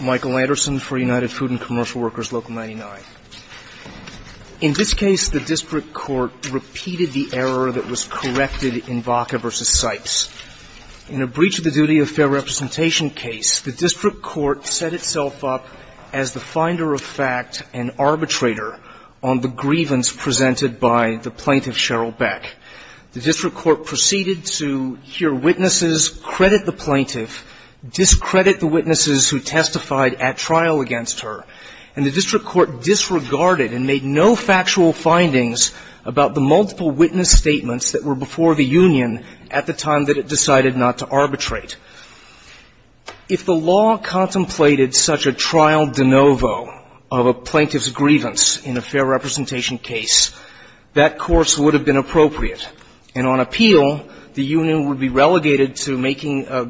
Michael Anderson for United Food and Commercial Workers, Local 99. In this case, the district court repeated the error that was corrected in Baca v. Sipes. In a breach of the duty of fair representation case, the district court set itself up as the finder of fact and arbitrator on the grievance presented by the plaintiff, Cheryl Beck. The district court proceeded to hear witnesses credit the plaintiff, discredit the witnesses who testified at trial against her. And the district court disregarded and made no factual findings about the multiple witness statements that were before the union at the time that it decided not to arbitrate. If the law contemplated such a trial de novo of a plaintiff's grievance in a fair representation case, that course would have been appropriate. And on appeal, the union would be relegated to making a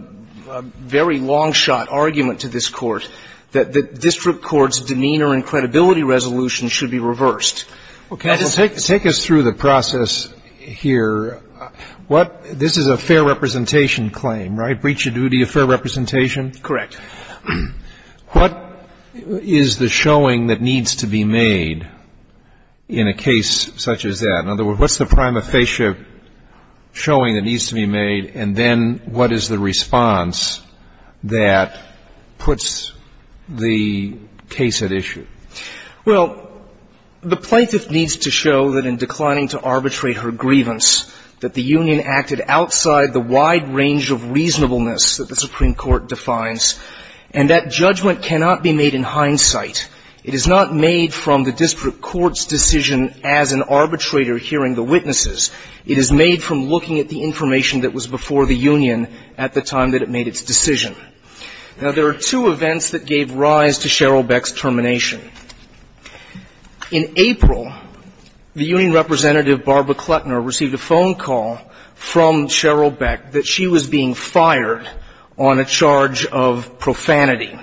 very long-shot argument to this court that the district court's demeanor and credibility resolution should be reversed. Okay. Take us through the process here. This is a fair representation claim, right? Breach of duty of fair representation? Correct. What is the showing that needs to be made in a case such as that? In other words, what's the prima facie showing that needs to be made, and then what is the response that puts the case at issue? Well, the plaintiff needs to show that in declining to arbitrate her grievance, that the union acted outside the wide range of reasonableness that the Supreme Court defines. And that judgment cannot be made in hindsight. It is not made from the district court's decision as an arbitrator hearing the witnesses. It is made from looking at the information that was before the union at the time that it made its decision. Now, there are two events that gave rise to Sheryl Beck's termination. In April, the union representative, Barbara Kletner, received a phone call from Sheryl Beck that she was being fired on a charge of profanity.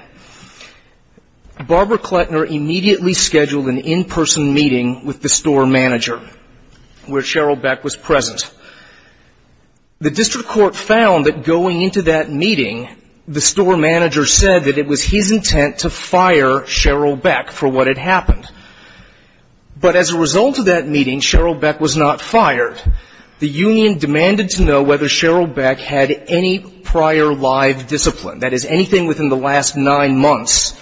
Barbara Kletner immediately scheduled an in-person meeting with the store manager where Sheryl Beck was present. The district court found that going into that meeting, the store manager said that it was his intent to fire Sheryl Beck for what had happened. But as a result of that meeting, Sheryl Beck was not fired. The union demanded to know whether Sheryl Beck had any prior live discipline. That is, anything within the last nine months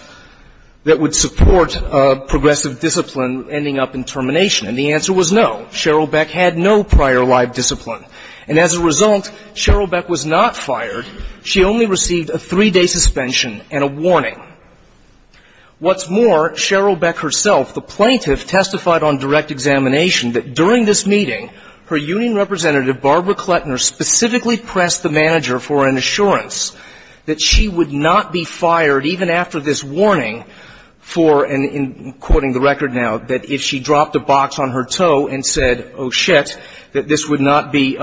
that would support a progressive discipline ending up in termination. And the answer was no. Sheryl Beck had no prior live discipline. And as a result, Sheryl Beck was not fired. She only received a three-day suspension and a warning. What's more, Sheryl Beck herself, the plaintiff, testified on direct examination that during this meeting, her union representative, Barbara Kletner, specifically pressed the manager for an assurance that she would not be fired even after this warning for, and in quoting the record now, that if she dropped a box on her toe and said, oh, shit, that this would not be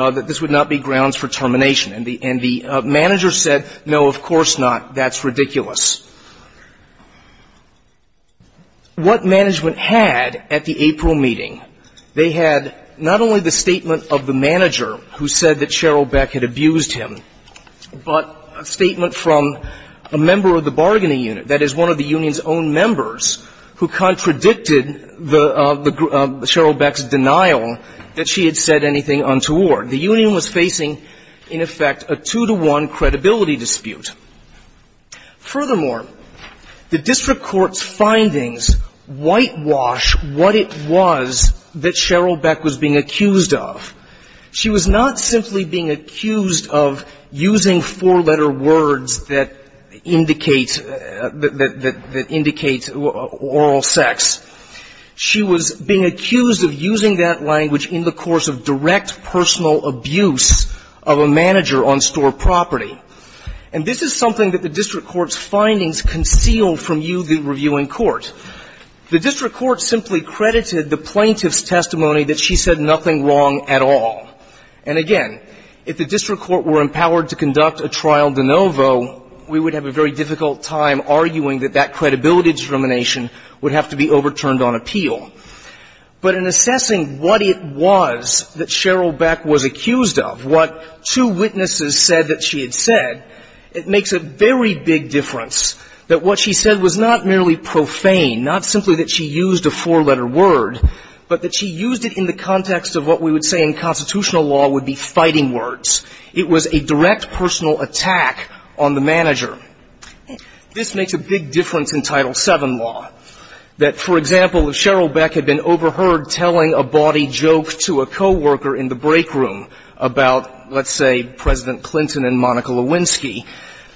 grounds for termination. And the manager said, no, of course not. That's ridiculous. What management had at the April meeting, they had not only the statement of the manager who said that Sheryl Beck had abused him, but a statement from a member of the bargaining unit, that is, one of the union's own members who contradicted the group of Sheryl Beck's denial that she had said anything untoward. The union was facing, in effect, a two-to-one credibility dispute. Furthermore, the district court's findings whitewash what it was that Sheryl Beck was being accused of. She was not simply being accused of using four-letter words that indicates oral sex. She was being accused of using that language in the course of direct personal abuse of a manager on store property. And this is something that the district court's findings conceal from you, the reviewing court. The district court simply credited the plaintiff's testimony that she said nothing wrong at all. And again, if the district court were empowered to conduct a trial de novo, we would have a very difficult time arguing that that credibility determination would have to be overturned on appeal. But in assessing what it was that Sheryl Beck was accused of, what two witnesses said that she had said, it makes a very big difference that what she said was not merely profane, not simply that she used a four-letter word, but that she used it in the context of what we would say in constitutional law would be fighting words. It was a direct personal attack on the manager. This makes a big difference in Title VII law, that, for example, if Sheryl Beck had been overheard telling a bawdy joke to a coworker in the break room about, let's say, President Clinton and Monica Lewinsky,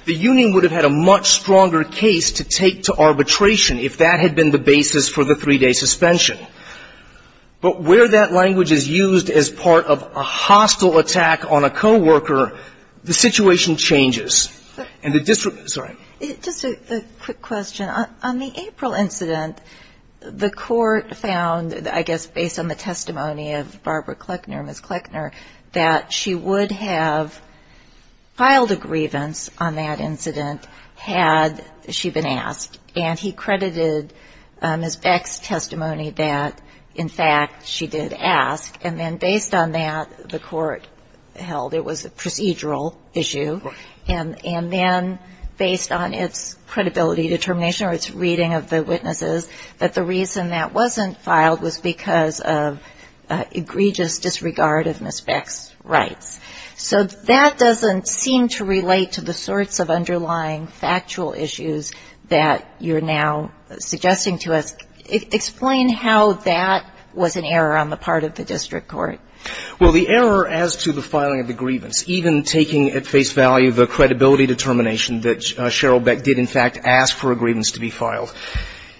the union would have had a much stronger case to take to arbitration if that had been the basis for the three-day suspension. But where that language is used as part of a hostile attack on a coworker, the situation changes. And the district – sorry. Just a quick question. On the April incident, the Court found, I guess based on the testimony of Barbara Kleckner, Ms. Kleckner, that she would have filed a grievance on that incident had she been asked. And he credited Ms. Beck's testimony that, in fact, she did ask. And then based on that, the Court held it was a procedural issue. And then based on its credibility determination or its reading of the witnesses, that the reason that wasn't filed was because of egregious disregard of Ms. Beck's rights. So that doesn't seem to relate to the sorts of underlying factual issues that you're now suggesting to us. Explain how that was an error on the part of the district court. Well, the error as to the filing of the grievance, even taking at face value the credibility determination that Cheryl Beck did, in fact, ask for a grievance to be filed,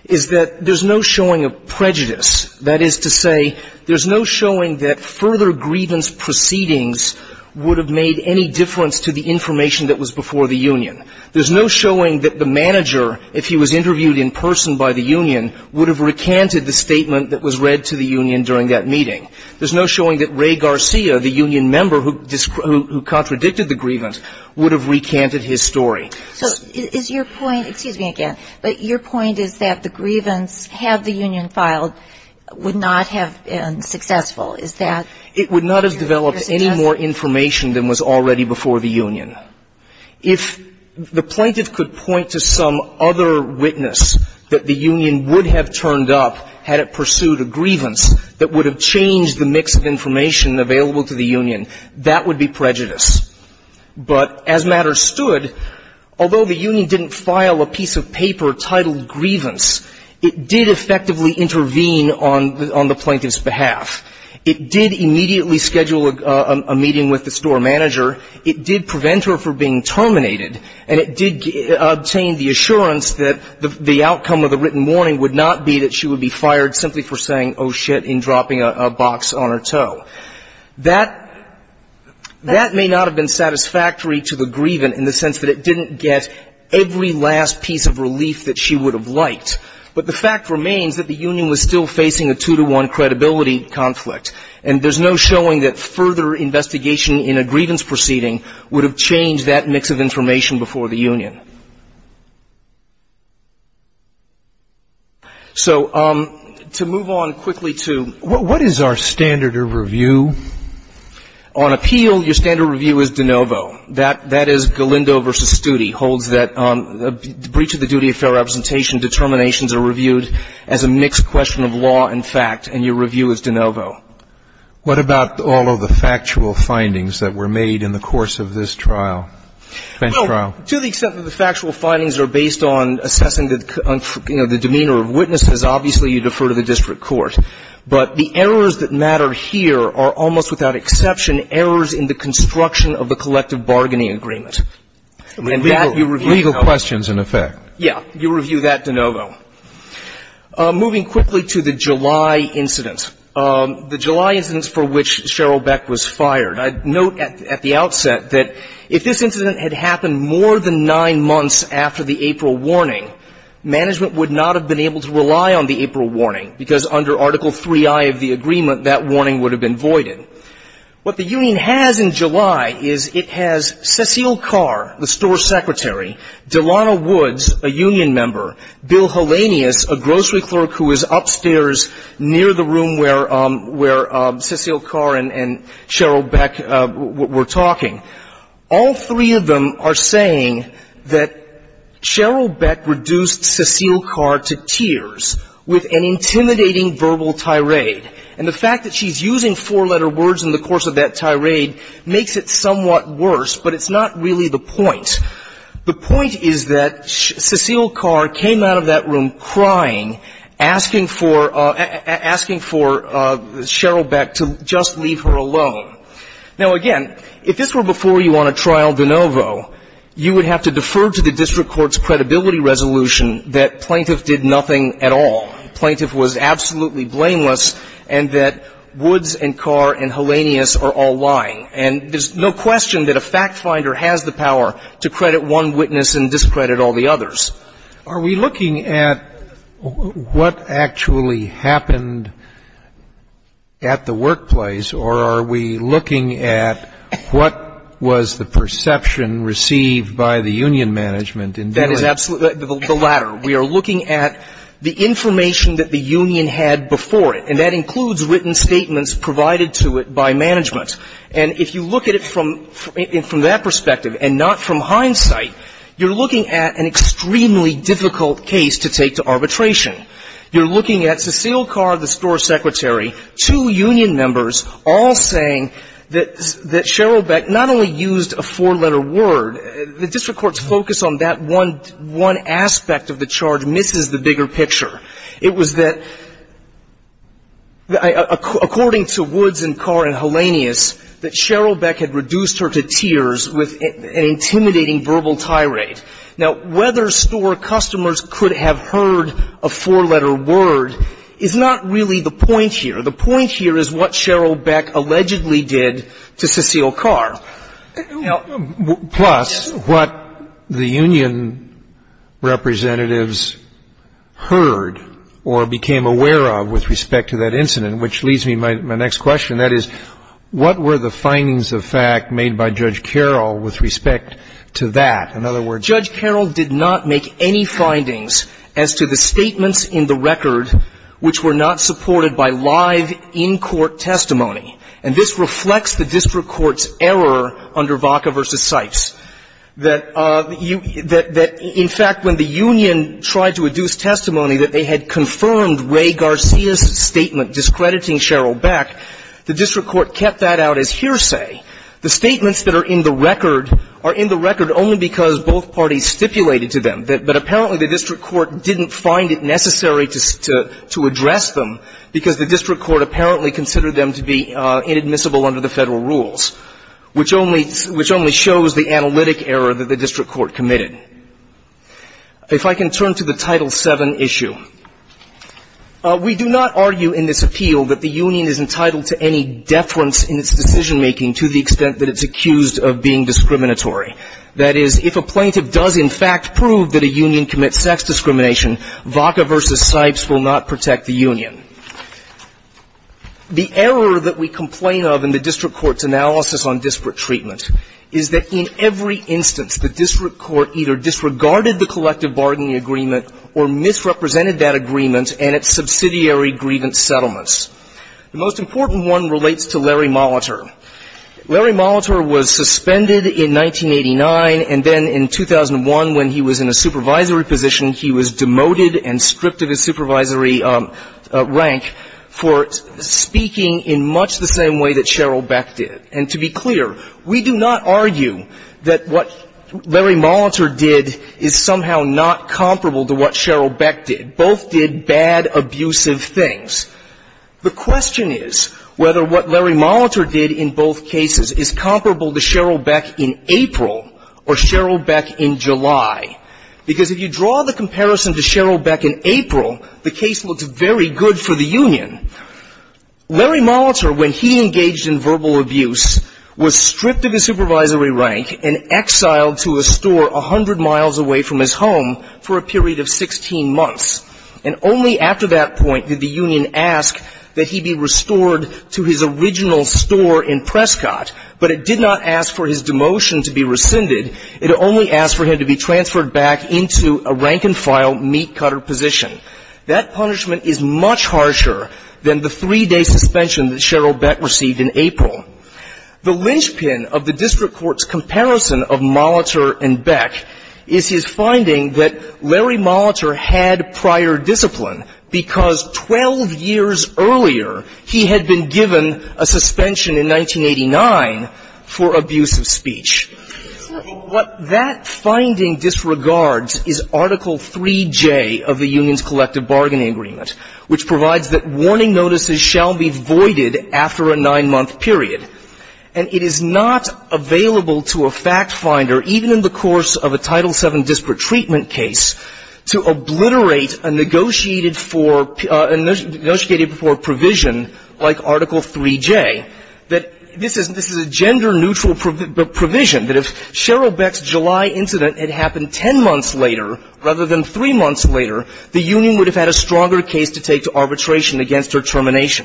is that there's no showing of prejudice. That is to say, there's no showing that further grievance proceedings would have made any difference to the information that was before the union. There's no showing that the manager, if he was interviewed in person by the union, would have recanted the statement that was read to the union during that meeting. There's no showing that Ray Garcia, the union member who contradicted the grievance, would have recanted his story. So is your point, excuse me again, but your point is that the grievance, had the union filed, would not have been successful. Is that your suggestion? It would not have developed any more information than was already before the union. If the plaintiff could point to some other witness that the union would have turned up had it pursued a grievance that would have changed the mix of information available to the union, that would be prejudice. But as matters stood, although the union didn't file a piece of paper titled grievance, it did effectively intervene on the plaintiff's behalf. It did immediately schedule a meeting with the store manager. It did prevent her from being terminated. And it did obtain the assurance that the outcome of the written warning would not be that she would be fired simply for saying, oh, shit, and dropping a box on her toe. That may not have been satisfactory to the grievant in the sense that it didn't get every last piece of relief that she would have liked. But the fact remains that the union was still facing a two-to-one credibility conflict. And there's no showing that further investigation in a grievance proceeding would have changed that mix of information before the union. So to move on quickly to what is our standard of review? On appeal, your standard of review is de novo. That is Galindo v. Studi holds that breach of the duty of fair representation determinations are reviewed as a mixed question of law and fact, and your review is de novo. What about all of the factual findings that were made in the course of this trial, bench trial? Well, to the extent that the factual findings are based on assessing the demeanor of witnesses, obviously you defer to the district court. But the errors that matter here are almost without exception errors in the construction of the collective bargaining agreement. And that you review de novo. Legal questions, in effect. Yes. You review that de novo. Moving quickly to the July incident, the July incident for which Cheryl Beck was fired, I note at the outset that if this incident had happened more than nine months after the April warning, management would not have been able to rely on the April warning. If they had relied on Article IIII of the agreement, that warning would have been voided. What the union has in July is it has Cecile Carr, the store secretary, Delano Woods, a union member, Bill Heleneus, a grocery clerk who is upstairs near the room where Cecile Carr and Cheryl Beck were talking. All three of them are saying that Cheryl Beck reduced Cecile Carr to tears with an awful tirade. And the fact that she's using four-letter words in the course of that tirade makes it somewhat worse, but it's not really the point. The point is that Cecile Carr came out of that room crying, asking for Cheryl Beck to just leave her alone. Now, again, if this were before you on a trial de novo, you would have to defer to the district court's credibility resolution that plaintiff did nothing at all, plaintiff was absolutely blameless, and that Woods and Carr and Heleneus are all lying. And there's no question that a fact finder has the power to credit one witness and discredit all the others. Are we looking at what actually happened at the workplace, or are we looking at what was the perception received by the union management in doing it? That is absolutely the latter. We are looking at the information that the union had before it, and that includes written statements provided to it by management. And if you look at it from that perspective and not from hindsight, you're looking at an extremely difficult case to take to arbitration. You're looking at Cecile Carr, the store secretary, two union members, all saying that Cheryl Beck not only used a four-letter word, the district court's focus on that one aspect of the charge misses the bigger picture. It was that, according to Woods and Carr and Heleneus, that Cheryl Beck had reduced her to tears with an intimidating verbal tirade. Now, whether store customers could have heard a four-letter word is not really the point here. The point here is what Cheryl Beck allegedly did to Cecile Carr. Plus, what the union representatives heard or became aware of with respect to that incident, which leads me to my next question, that is, what were the findings of fact made by Judge Carroll with respect to that? In other words, Judge Carroll did not make any findings as to the statements in the record which were not supported by live, in-court testimony. And this reflects the district court's error under Vaca v. Sipes, that you — that in fact, when the union tried to adduce testimony that they had confirmed Ray Garcia's statement discrediting Cheryl Beck, the district court kept that out as hearsay. The statements that are in the record are in the record only because both parties stipulated to them, that apparently the district court didn't find it necessary to address them because the district court apparently considered them to be inadmissible under the Federal rules, which only shows the analytic error that the district court committed. If I can turn to the Title VII issue. We do not argue in this appeal that the union is entitled to any deference in its decision-making to the extent that it's accused of being discriminatory. That is, if a plaintiff does in fact prove that a union commits sex discrimination, Vaca v. Sipes will not protect the union. The error that we complain of in the district court's analysis on disparate treatment is that in every instance, the district court either disregarded the collective bargaining agreement or misrepresented that agreement and its subsidiary grievance settlements. The most important one relates to Larry Molitor. Larry Molitor was suspended in 1989, and then in 2001, when he was in a supervisory position, he was demoted and stripped of his supervisory rank for speaking in much the same way that Sheryl Beck did. And to be clear, we do not argue that what Larry Molitor did is somehow not comparable to what Sheryl Beck did. Both did bad, abusive things. The question is whether what Larry Molitor did in both cases is comparable to Sheryl Beck in April or Sheryl Beck in July. Because if you draw the comparison to Sheryl Beck in April, the case looks very good for the union. Larry Molitor, when he engaged in verbal abuse, was stripped of his supervisory rank and exiled to a store 100 miles away from his home for a period of 16 months. And only after that point did the union ask that he be restored to his original store in Prescott, but it did not ask for his demotion to be rescinded. It only asked for him to be transferred back into a rank-and-file meat-cutter position. That punishment is much harsher than the three-day suspension that Sheryl Beck received in April. The linchpin of the district court's comparison of Molitor and Beck is his finding that Larry Molitor had prior discipline because 12 years earlier he had been given a suspension in 1989 for abusive speech. What that finding disregards is Article 3J of the Union's Collective Bargaining Agreement, which provides that warning notices shall be voided after a nine-month period. And it is not available to a fact finder, even in the course of a Title VII disparate treatment case, to obliterate a negotiated for provision like Article 3J, that this is a gender-neutral provision, that if Sheryl Beck's July incident had happened 10 months later rather than 3 months later, the union would have had a stronger case to take to arbitration against her termination.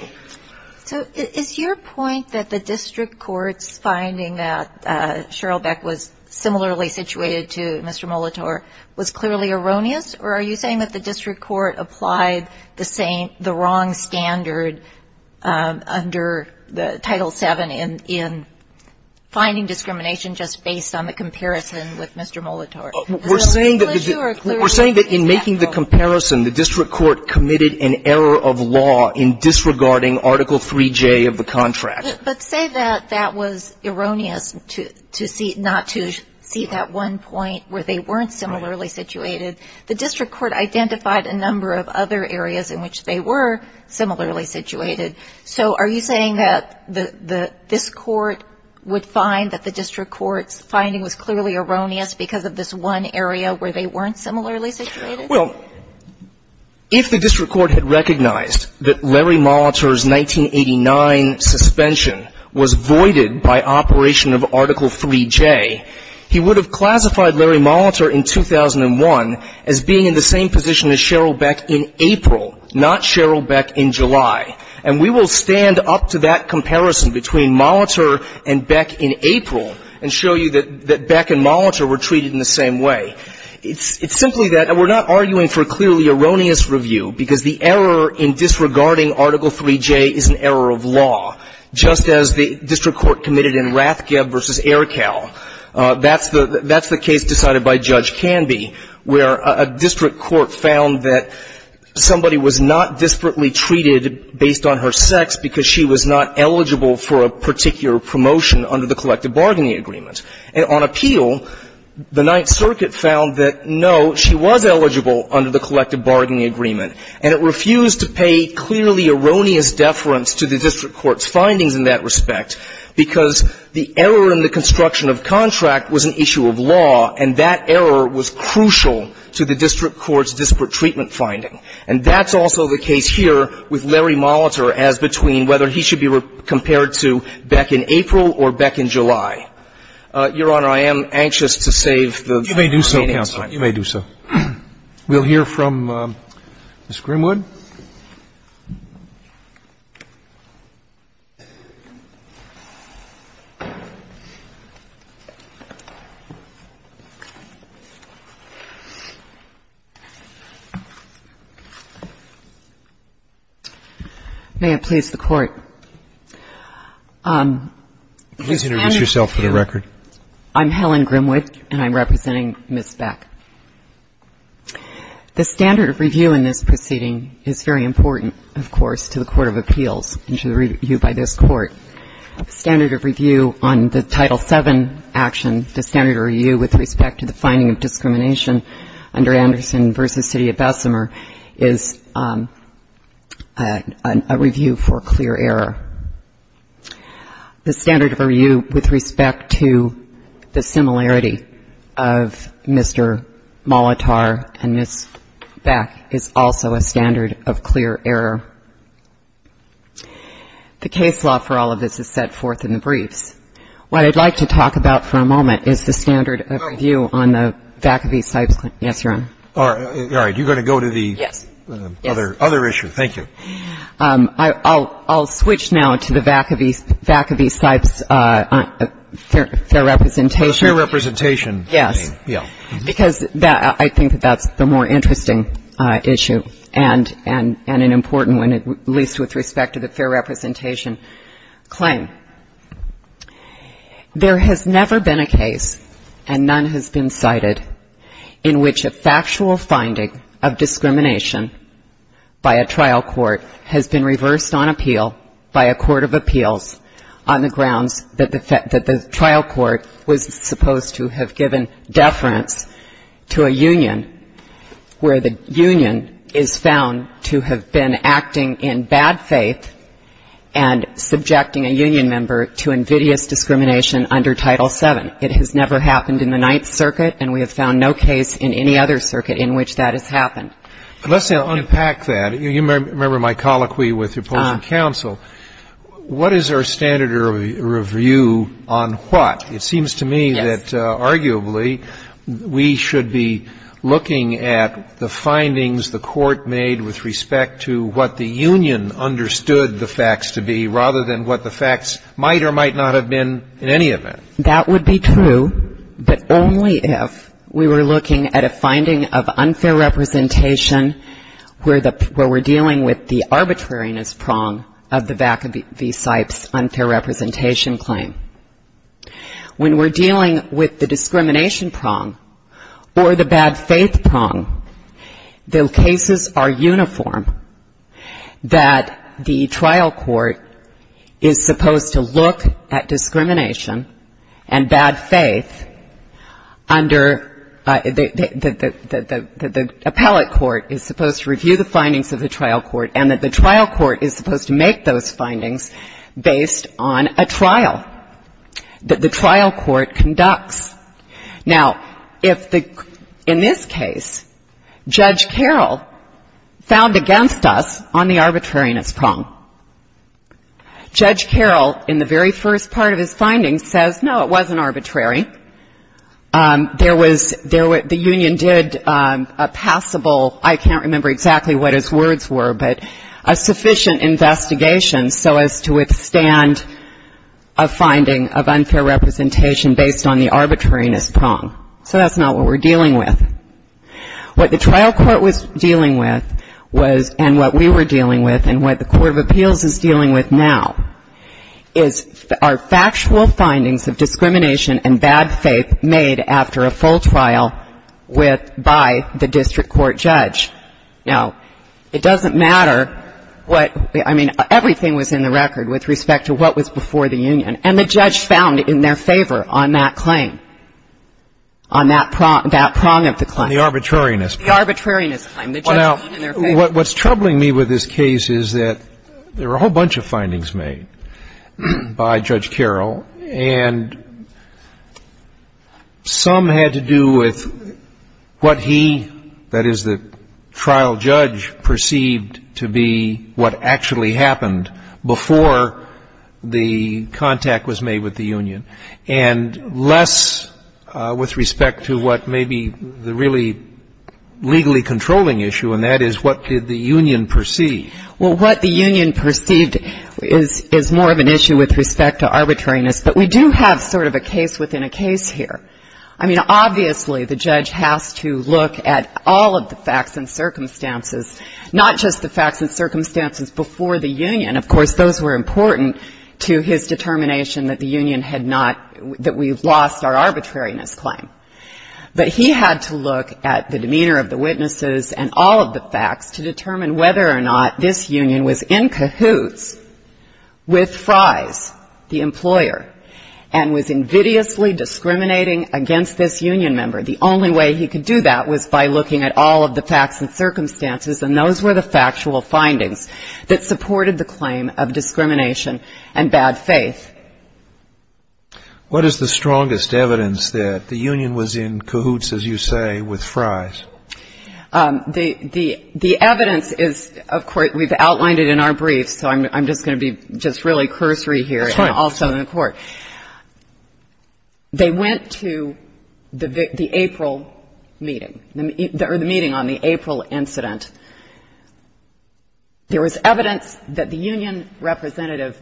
So is your point that the district court's finding that Sheryl Beck was similarly situated to Mr. Molitor was clearly erroneous? Or are you saying that the district court applied the same the wrong standard under the Title VII in finding discrimination just based on the comparison with Mr. Molitor? We're saying that in making the comparison, the district court committed an error of law in disregarding Article 3J of the contract. But say that that was erroneous to see not to see that one point where they weren't similarly situated. The district court identified a number of other areas in which they were similarly situated. So are you saying that this court would find that the district court's finding was clearly erroneous because of this one area where they weren't similarly situated? Well, if the district court had recognized that Larry Molitor's 1989 suspension was voided by operation of Article 3J, he would have classified Larry Molitor in 2001 as being in the same position as Sheryl Beck in April, not Sheryl Beck in July. And we will stand up to that comparison between Molitor and Beck in April and show you that Beck and Molitor were treated in the same way. It's simply that we're not arguing for clearly erroneous review because the error in disregarding Article 3J is an error of law, just as the district court committed in Rathgeb v. Aircal. That's the case decided by Judge Canby, where a district court found that somebody was not disparately treated based on her sex because she was not eligible for a particular promotion under the collective bargaining agreement. And on appeal, the Ninth Circuit found that, no, she was eligible under the collective bargaining agreement, and it refused to pay clearly erroneous deference to the district court's findings in that respect because the error in the construction of contract was an issue of law, and that error was crucial to the district court's disparate treatment finding. And that's also the case here with Larry Molitor as between whether he should be compared to Beck in April or Beck in July. Your Honor, I am anxious to save the remaining time. You may do so. We'll hear from Ms. Grimwood. May it please the Court. Please introduce yourself for the record. I'm Helen Grimwood, and I'm representing Ms. Beck. The standard of review in this proceeding is very important, of course, to the Court of Appeals and to the review by this Court. The standard of review on the Title VII action, the standard of review with respect to the finding of discrimination under Anderson v. City of Bessemer is a review for clear error. The standard of review with respect to the similarity of Mr. Molitor and Ms. Beck is also a standard of clear error. The case law for all of this is set forth in the briefs. What I'd like to talk about for a moment is the standard of review on the Vacaville-Seib claim. Yes, Your Honor. All right. You're going to go to the other issue. Yes. Thank you. I'll switch now to the Vacaville-Seib fair representation. Fair representation. Yes. Yeah. Because I think that that's the more interesting issue and an important one, at least with respect to the fair representation claim. There has never been a case, and none has been cited, in which a factual finding of discrimination by a trial court has been reversed on appeal by a court of appeals on the grounds that the trial court was supposed to have given deference to a union where the union is found to have been acting in bad faith and subjecting a union member to invidious discrimination under Title VII. It has never happened in the Ninth Circuit, and we have found no case in any other circuit in which that has happened. Let's now unpack that. You remember my colloquy with the appellate counsel. What is our standard of review on what? It seems to me that, arguably, we should be looking at the findings the court made with respect to what the union understood the facts to be rather than what the facts might or might not have been in any event. That would be true, but only if we were looking at a finding of unfair representation where we're dealing with the arbitrariness prong of the Vaca v. Sipes unfair representation claim. When we're dealing with the discrimination prong or the bad faith prong, the cases are uniform that the trial court is supposed to look at discrimination and bad faith under the appellate court is supposed to review the findings of the trial court and that the trial court is supposed to make those findings based on a trial that the trial court conducts. Now, in this case, Judge Carroll found against us on the arbitrariness prong. Judge Carroll, in the very first part of his findings, says, no, it wasn't arbitrary. There was the union did a passable, I can't remember exactly what his words were, but a sufficient investigation so as to withstand a finding of unfair representation based on the arbitrariness prong. So that's not what we're dealing with. What the trial court was dealing with and what we were dealing with and what the Court of Appeals is dealing with now is our factual findings of discrimination and bad faith made after a full trial by the district court judge. Now, it doesn't matter what, I mean, everything was in the record with respect to what was before the union. And the judge found in their favor on that claim, on that prong of the claim. The arbitrariness prong. The arbitrariness claim. The judge found in their favor. Well, now, what's troubling me with this case is that there were a whole bunch of findings made by Judge Carroll, and some had to do with what he, that is, the trial judge, perceived to be what actually happened before the contact was made with the union, and less with respect to what may be the really legally controlling issue, and that is what did the union perceive. Well, what the union perceived is more of an issue with respect to arbitrariness, but we do have sort of a case within a case here. I mean, obviously, the judge has to look at all of the facts and circumstances, not just the facts and circumstances before the union. Of course, those were important to his determination that the union had not, that we lost our arbitrariness claim. But he had to look at the demeanor of the witnesses and all of the facts to determine whether or not this union was in cahoots with Fries, the employer, and was invidiously discriminating against this union member. The only way he could do that was by looking at all of the facts and circumstances, and those were the factual findings that supported the claim of discrimination and bad faith. What is the strongest evidence that the union was in cahoots, as you say, with Fries? The evidence is, of course, we've outlined it in our brief, so I'm just going to be just really cursory here and also in court. That's right. They went to the April meeting, or the meeting on the April incident. There was evidence that the union representative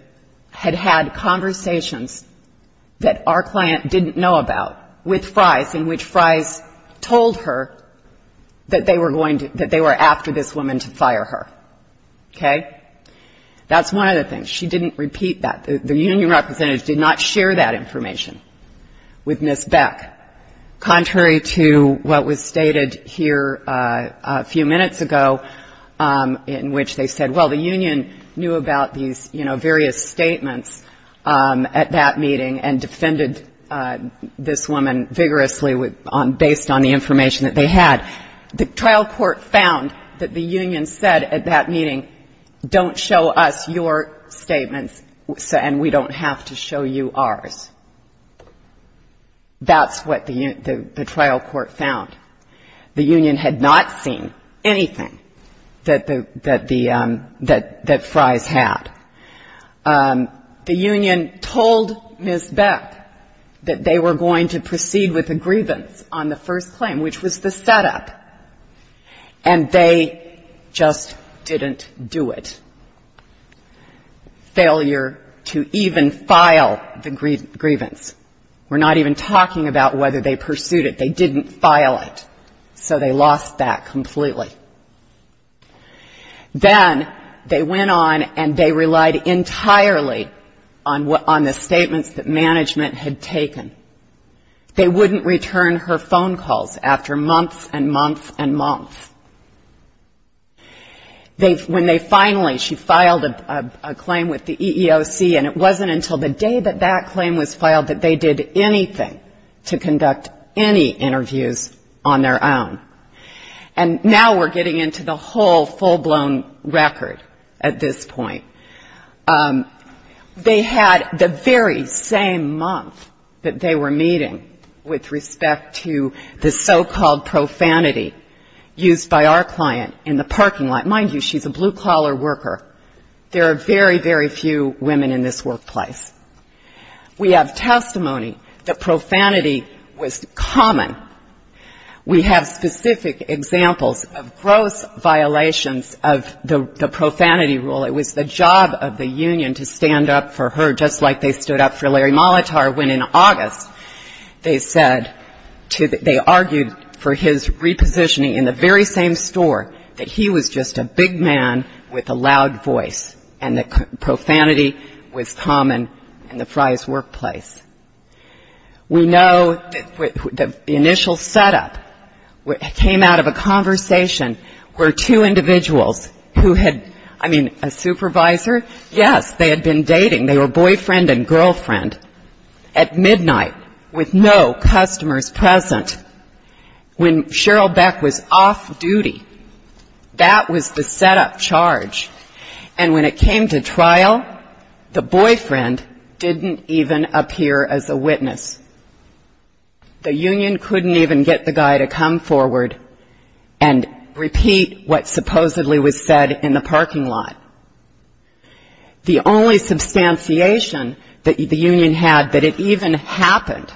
had had conversations that our client didn't know about with Fries in which Fries told her that they were going to, that they were after this woman to fire her. Okay? That's one of the things. She didn't repeat that. The union representative did not share that information with Ms. Beck, contrary to what was stated here a few minutes ago in which they said, well, the union knew about these various statements at that meeting and defended this woman vigorously based on the information that they had. The trial court found that the union said at that meeting, don't show us your statements and we don't have to show you ours. That's what the trial court found. The union had not seen anything that the, that Fries had. The union told Ms. Beck that they were going to proceed with the grievance on the first claim, which was the setup, and they just didn't do it. Failure to even file the grievance. We're not even talking about whether they pursued it. They didn't file it, so they lost that completely. Then they went on and they relied entirely on the statements that management had taken. They wouldn't return her phone calls after months and months and months. When they finally, she filed a claim with the EEOC, and it wasn't until the day that that claim was filed that they did anything to conduct any interviews on their own. And now we're getting into the whole full-blown record at this point. They had the very same month that they were meeting with respect to the so-called profanity used by our client in the parking lot. Mind you, she's a blue-collar worker. There are very, very few women in this workplace. We have testimony that profanity was common. We have specific examples of gross violations of the profanity rule. It was the job of the union to stand up for her, just like they stood up for Larry Molitor when in August they said they argued for his repositioning in the very same store, that he was just a big man with a loud voice, and that profanity was common in the Fry's workplace. We know that the initial setup came out of a conversation where two individuals who had, I mean, a supervisor, yes, they had been dating. They were boyfriend and girlfriend at midnight with no customers present. When Cheryl Beck was off-duty, that was the setup charge. And when it came to trial, the boyfriend didn't even appear as a witness. The union couldn't even get the guy to come forward and repeat what supposedly was said in the parking lot. The only substantiation that the union had that it even happened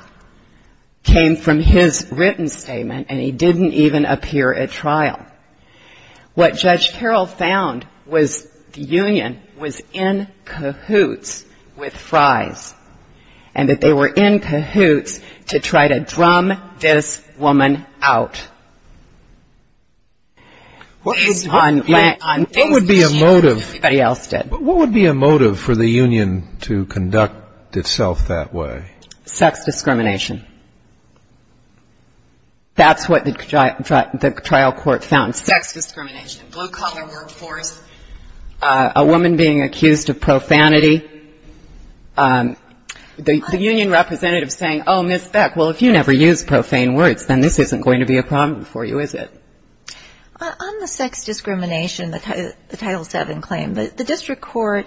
came from his written statement, and he didn't even appear at trial. What Judge Carroll found was the union was in cahoots with Fry's, and that they were in cahoots to try to drum this woman out. What would be a motive for the union to conduct itself that way? Sex discrimination. That's what the trial court found, sex discrimination, blue-collar workforce, a woman being accused of profanity. The union representative saying, oh, Ms. Beck, well, if you never use profane words, then this isn't going to be a problem for you, is it? On the sex discrimination, the Title VII claim, the district court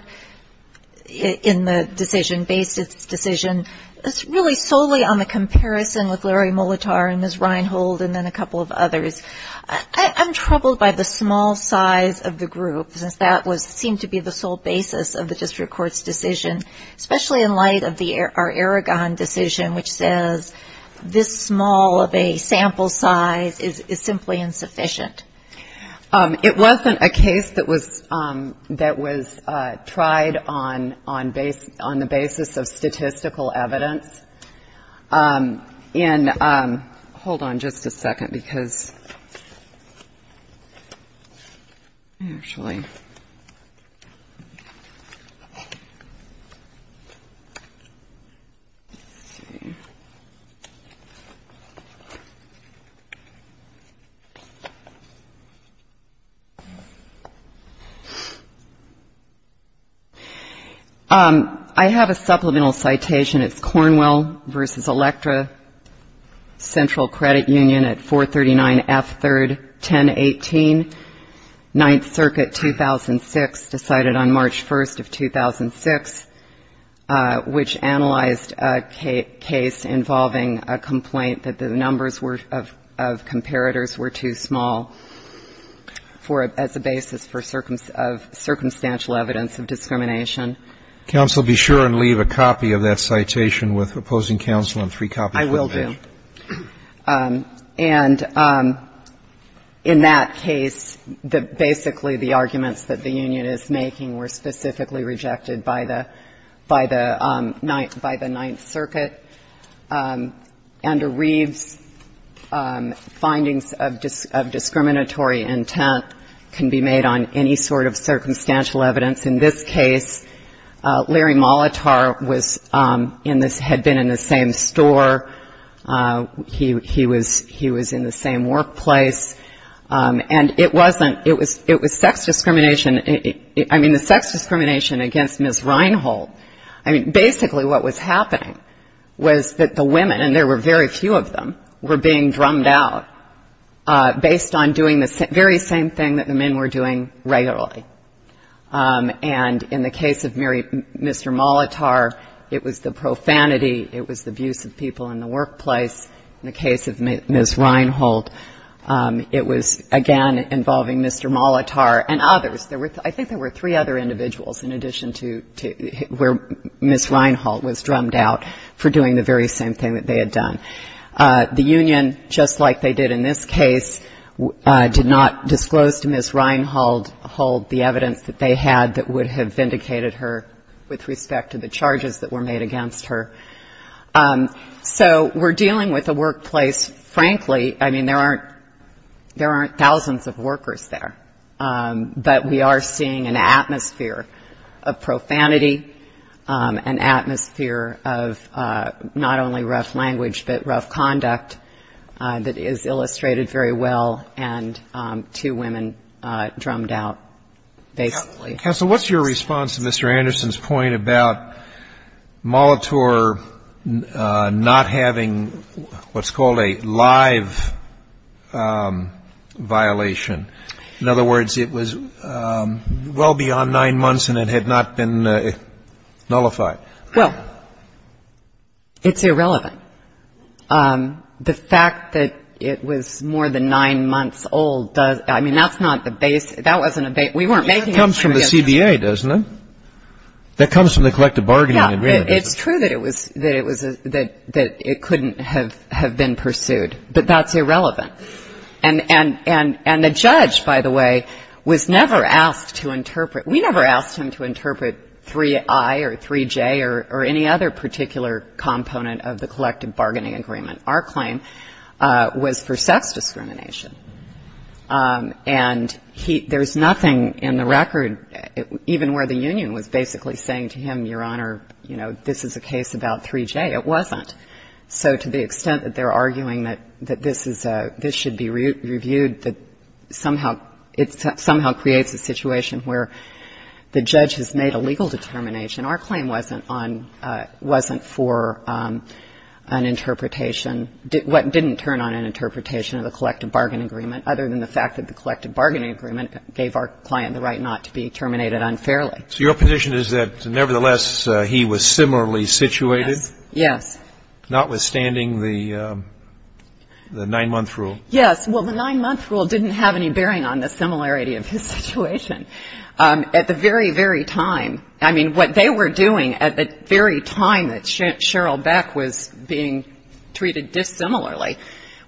in the decision, based its decision, it's really solely on the comparison with Larry Molitor and Ms. Reinhold and then a couple of others. I'm troubled by the small size of the group, since that seemed to be the sole basis of the district court's decision, especially in light of our Aragon decision, which says this small of a sample size is simply insufficient. It wasn't a case that was tried on the basis of statistical evidence. And hold on just a second, because actually, I'm going to go back to my slides. Let's see. I have a supplemental citation. It's Cornwell v. Electra, Central Credit Union at 439F3-1018, Ninth Circuit, 2006, decided on March 1st of 2006, which analyzed a case involving a complaint that the numbers of comparators were too small as a basis of circumstantial evidence of discrimination. Counsel, be sure and leave a copy of that citation with opposing counsel and three copies of the page. I will do. And in that case, basically the arguments that the union is making were specifically rejected by the Ninth Circuit. Under Reeves, findings of discriminatory intent can be made on any sort of circumstantial evidence. In this case, Larry Molitor had been in the same store. He was in the same workplace. And it wasn't. It was sex discrimination. I mean, the sex discrimination against Ms. Reinhold, I mean, basically what was happening was that the women, and there were very few of them, were being drummed out based on doing the very same thing that the men were doing regularly. And in the case of Mr. Molitor, it was the profanity, it was the abuse of people in the workplace. In the case of Ms. Reinhold, it was, again, involving Mr. Molitor and others. I think there were three other individuals in addition to where Ms. Reinhold was drummed out for doing the very same thing that they had done. The union, just like they did in this case, did not disclose to Ms. Reinhold the evidence that they had that would have vindicated her with respect to the charges that were made against her. So we're dealing with a workplace, frankly, I mean, there aren't thousands of workers there, but we are seeing an atmosphere of profanity, an atmosphere of not only rough language, but rough conduct that is illustrated very well, and two women drummed out, basically. Counsel, what's your response to Mr. Anderson's point about Molitor not having what's called a live violation? In other words, it was well beyond nine months, and it had not been nullified. Well, it's irrelevant. The fact that it was more than nine months old, I mean, that's not the base. That wasn't a base. We weren't making a claim against him. That comes from the CBA, doesn't it? That comes from the collective bargaining agreement. Yeah, it's true that it couldn't have been pursued, but that's irrelevant. And the judge, by the way, was never asked to interpret. We never asked him to interpret 3I or 3J or any other particular component of the collective bargaining agreement. Our claim was for sex discrimination. And there's nothing in the record, even where the union was basically saying to him, Your Honor, you know, this is a case about 3J. It wasn't. So to the extent that they're arguing that this is a ‑‑ this should be reviewed, that somehow it somehow creates a situation where the judge has made a legal determination. Our claim wasn't on ‑‑ wasn't for an interpretation, what didn't turn on an interpretation of the collective bargaining agreement, other than the fact that the collective bargaining agreement gave our client the right not to be terminated unfairly. So your position is that, nevertheless, he was similarly situated? Yes. Notwithstanding the 9‑month rule? Yes. Well, the 9‑month rule didn't have any bearing on the similarity of his situation. At the very, very time, I mean, what they were doing at the very time that Cheryl Beck was being treated dissimilarly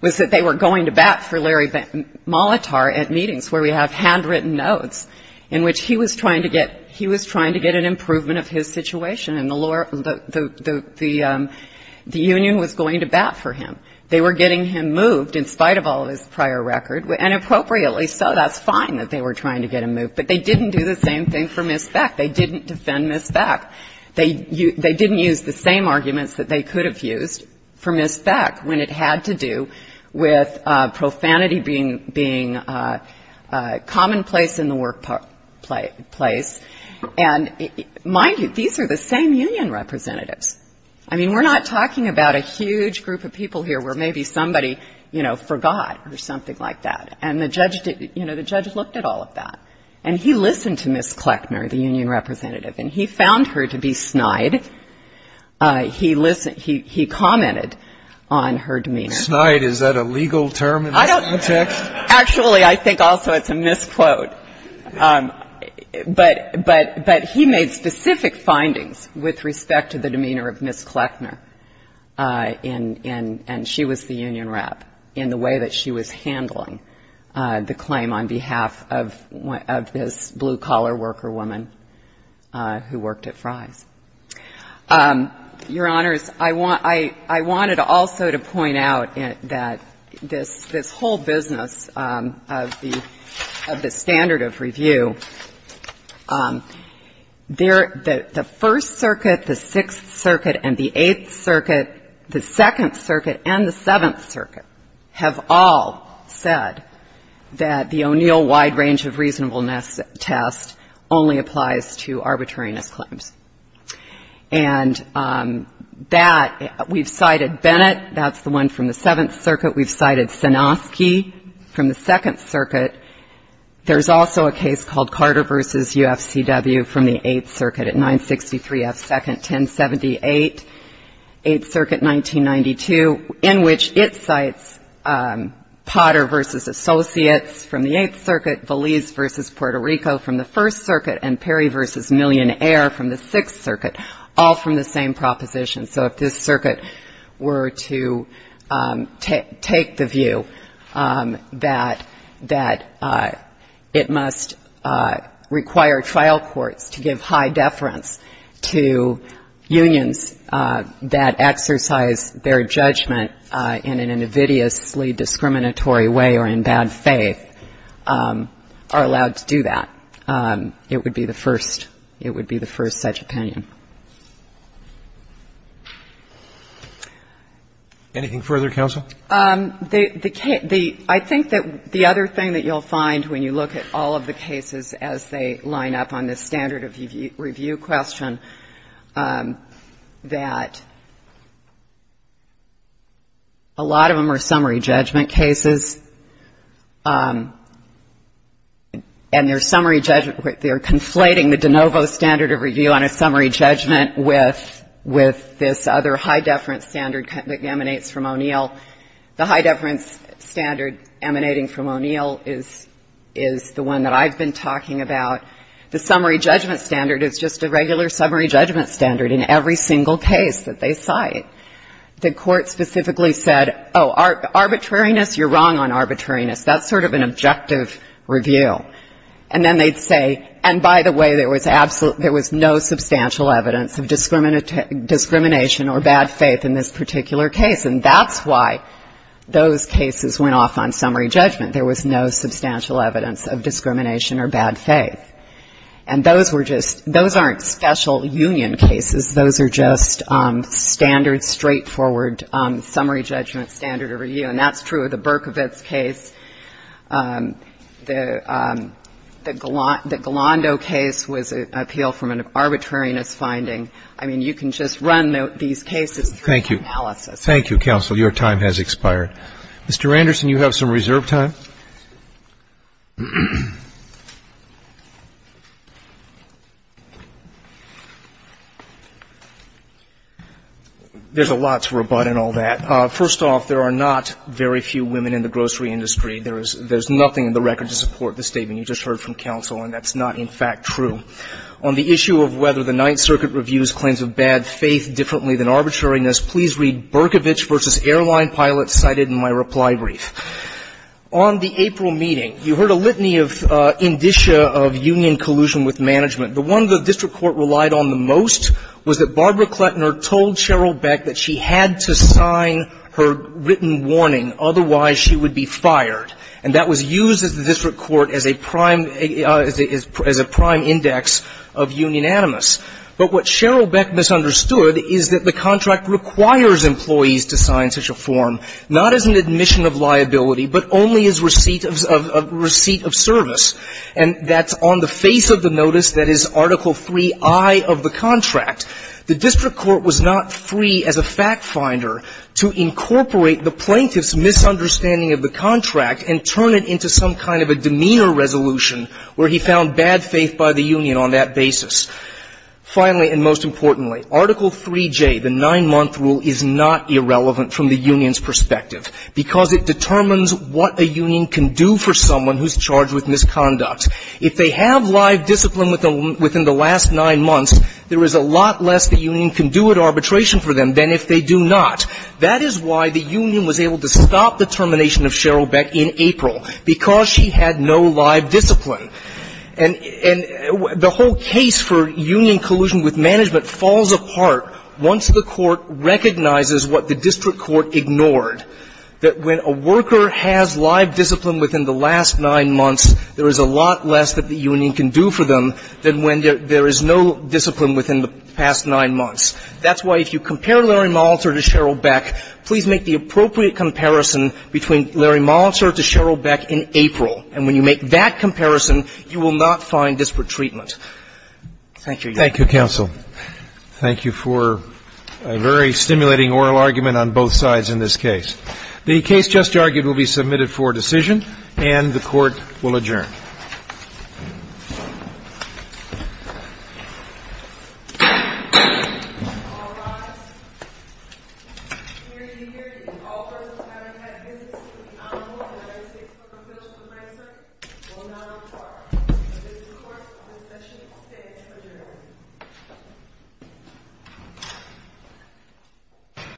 was that they were going to bat for Larry Molitor at meetings where we have handwritten notes in which he was trying to get an improvement of his situation. And the union was going to bat for him. They were getting him moved in spite of all of his prior record, and appropriately, so that's fine that they were trying to get him moved. But they didn't do the same thing for Ms. Beck. They didn't defend Ms. Beck. They didn't use the same arguments that they could have used for Ms. Beck when it had to do with profanity being commonplace in the workplace. And mind you, these are the same union representatives. I mean, we're not talking about a huge group of people here where maybe somebody, you know, forgot or something like that. And the judge did ‑‑ you know, the judge looked at all of that. And he listened to Ms. Kleckner, the union representative. And he found her to be snide. He commented on her demeanor. Snide, is that a legal term in this context? Actually, I think also it's a misquote. But he made specific findings with respect to the demeanor of Ms. Kleckner in ‑‑ and she was the union rep in the way that she was handling the claim on behalf of this blue-collar worker woman who worked at Fry's. Your Honors, I wanted also to point out that this whole business of the standard of review, the first circuit, the sixth circuit, and the eighth circuit, the second circuit, and the seventh circuit have all said that the O'Neill wide range of reasonableness test only applies to arbitrariness claims. And that ‑‑ we've cited Bennett. That's the one from the seventh circuit. We've cited Sanofsky from the second circuit. There's also a case called Carter v. UFCW from the eighth circuit at 963F 2nd 1078, eighth circuit 1992, in which it cites Potter v. Associates from the eighth circuit, Valise v. Puerto Rico from the first circuit, and Perry v. Millionaire from the sixth circuit, all from the same proposition. So if this circuit were to take the view that it must require trial courts to give high deference to unions that exercise their judgment in an invidiously discriminatory way or in bad faith, are allowed to do that. It would be the first ‑‑ it would be the first such opinion. Anything further, counsel? I think that the other thing that you'll find when you look at all of the cases as they line up on this standard of review question, that a lot of them are summary judgment cases. And their summary judgment ‑‑ they're conflating the de novo standard of review on a summary judgment with this other high deference standard that emanates from O'Neill. The high deference standard emanating from O'Neill is the one that I've been talking about. The summary judgment standard is just a regular summary judgment standard in every single case that they cite. The court specifically said, oh, arbitrariness, you're wrong on arbitrariness. That's sort of an objective review. And then they'd say, and by the way, there was no substantial evidence of discrimination or bad faith in this particular case. And that's why those cases went off on summary judgment. There was no substantial evidence of discrimination or bad faith. And those were just ‑‑ those aren't special union cases. Those are just standard, straightforward summary judgment standard review. And that's true of the Berkovitz case. The Galando case was an appeal from an arbitrariness finding. I mean, you can just run these cases through analysis. Thank you, counsel. Your time has expired. Mr. Anderson, you have some reserve time. There's a lot to rebut in all that. First off, there are not very few women in the grocery industry. There's nothing in the record to support the statement you just heard from counsel, and that's not, in fact, true. On the issue of whether the Ninth Circuit reviews claims of bad faith differently than arbitrariness, please read Berkovitz v. Airline Pilots cited in my reply brief. On the April meeting, you heard a litany of indicia of union collusion with management. The one the district court relied on the most was that Barbara Kletner told Sheryl Beck that she had to sign her written warning, otherwise she would be fired. And that was used at the district court as a prime ‑‑ as a prime index of union animus. But what Sheryl Beck misunderstood is that the contract requires employees to sign such a form, not as an admission of liability, but only as receipt of service. And that's on the face of the notice that is Article IIIi of the contract. The district court was not free as a fact finder to incorporate the plaintiff's misunderstanding of the contract and turn it into some kind of a demeanor resolution where he found bad faith by the union on that basis. Finally and most importantly, Article IIIj, the nine‑month rule, is not irrelevant from the union's perspective because it determines what a union can do for someone who's charged with misconduct. If they have live discipline within the last nine months, there is a lot less the union can do at arbitration for them than if they do not. That is why the union was able to stop the termination of Sheryl Beck in April, because she had no live discipline. And the whole case for union collusion with management falls apart once the court recognizes what the district court ignored, that when a worker has live discipline within the last nine months, there is a lot less that the union can do for them than when there is no discipline within the past nine months. That's why if you compare Larry Molitor to Sheryl Beck, please make the appropriate comparison between Larry Molitor to Sheryl Beck in April. And when you make that comparison, you will not find disparate treatment. Thank you, Your Honor. Thank you, counsel. Thank you for a very stimulating oral argument on both sides in this case. The case just argued will be submitted for decision, and the Court will adjourn. All rise. I hereby declare that in all first and second cases, the Honorable United States Court of Appeals Appraiser will not require the District Court of Discussion to stay adjourned.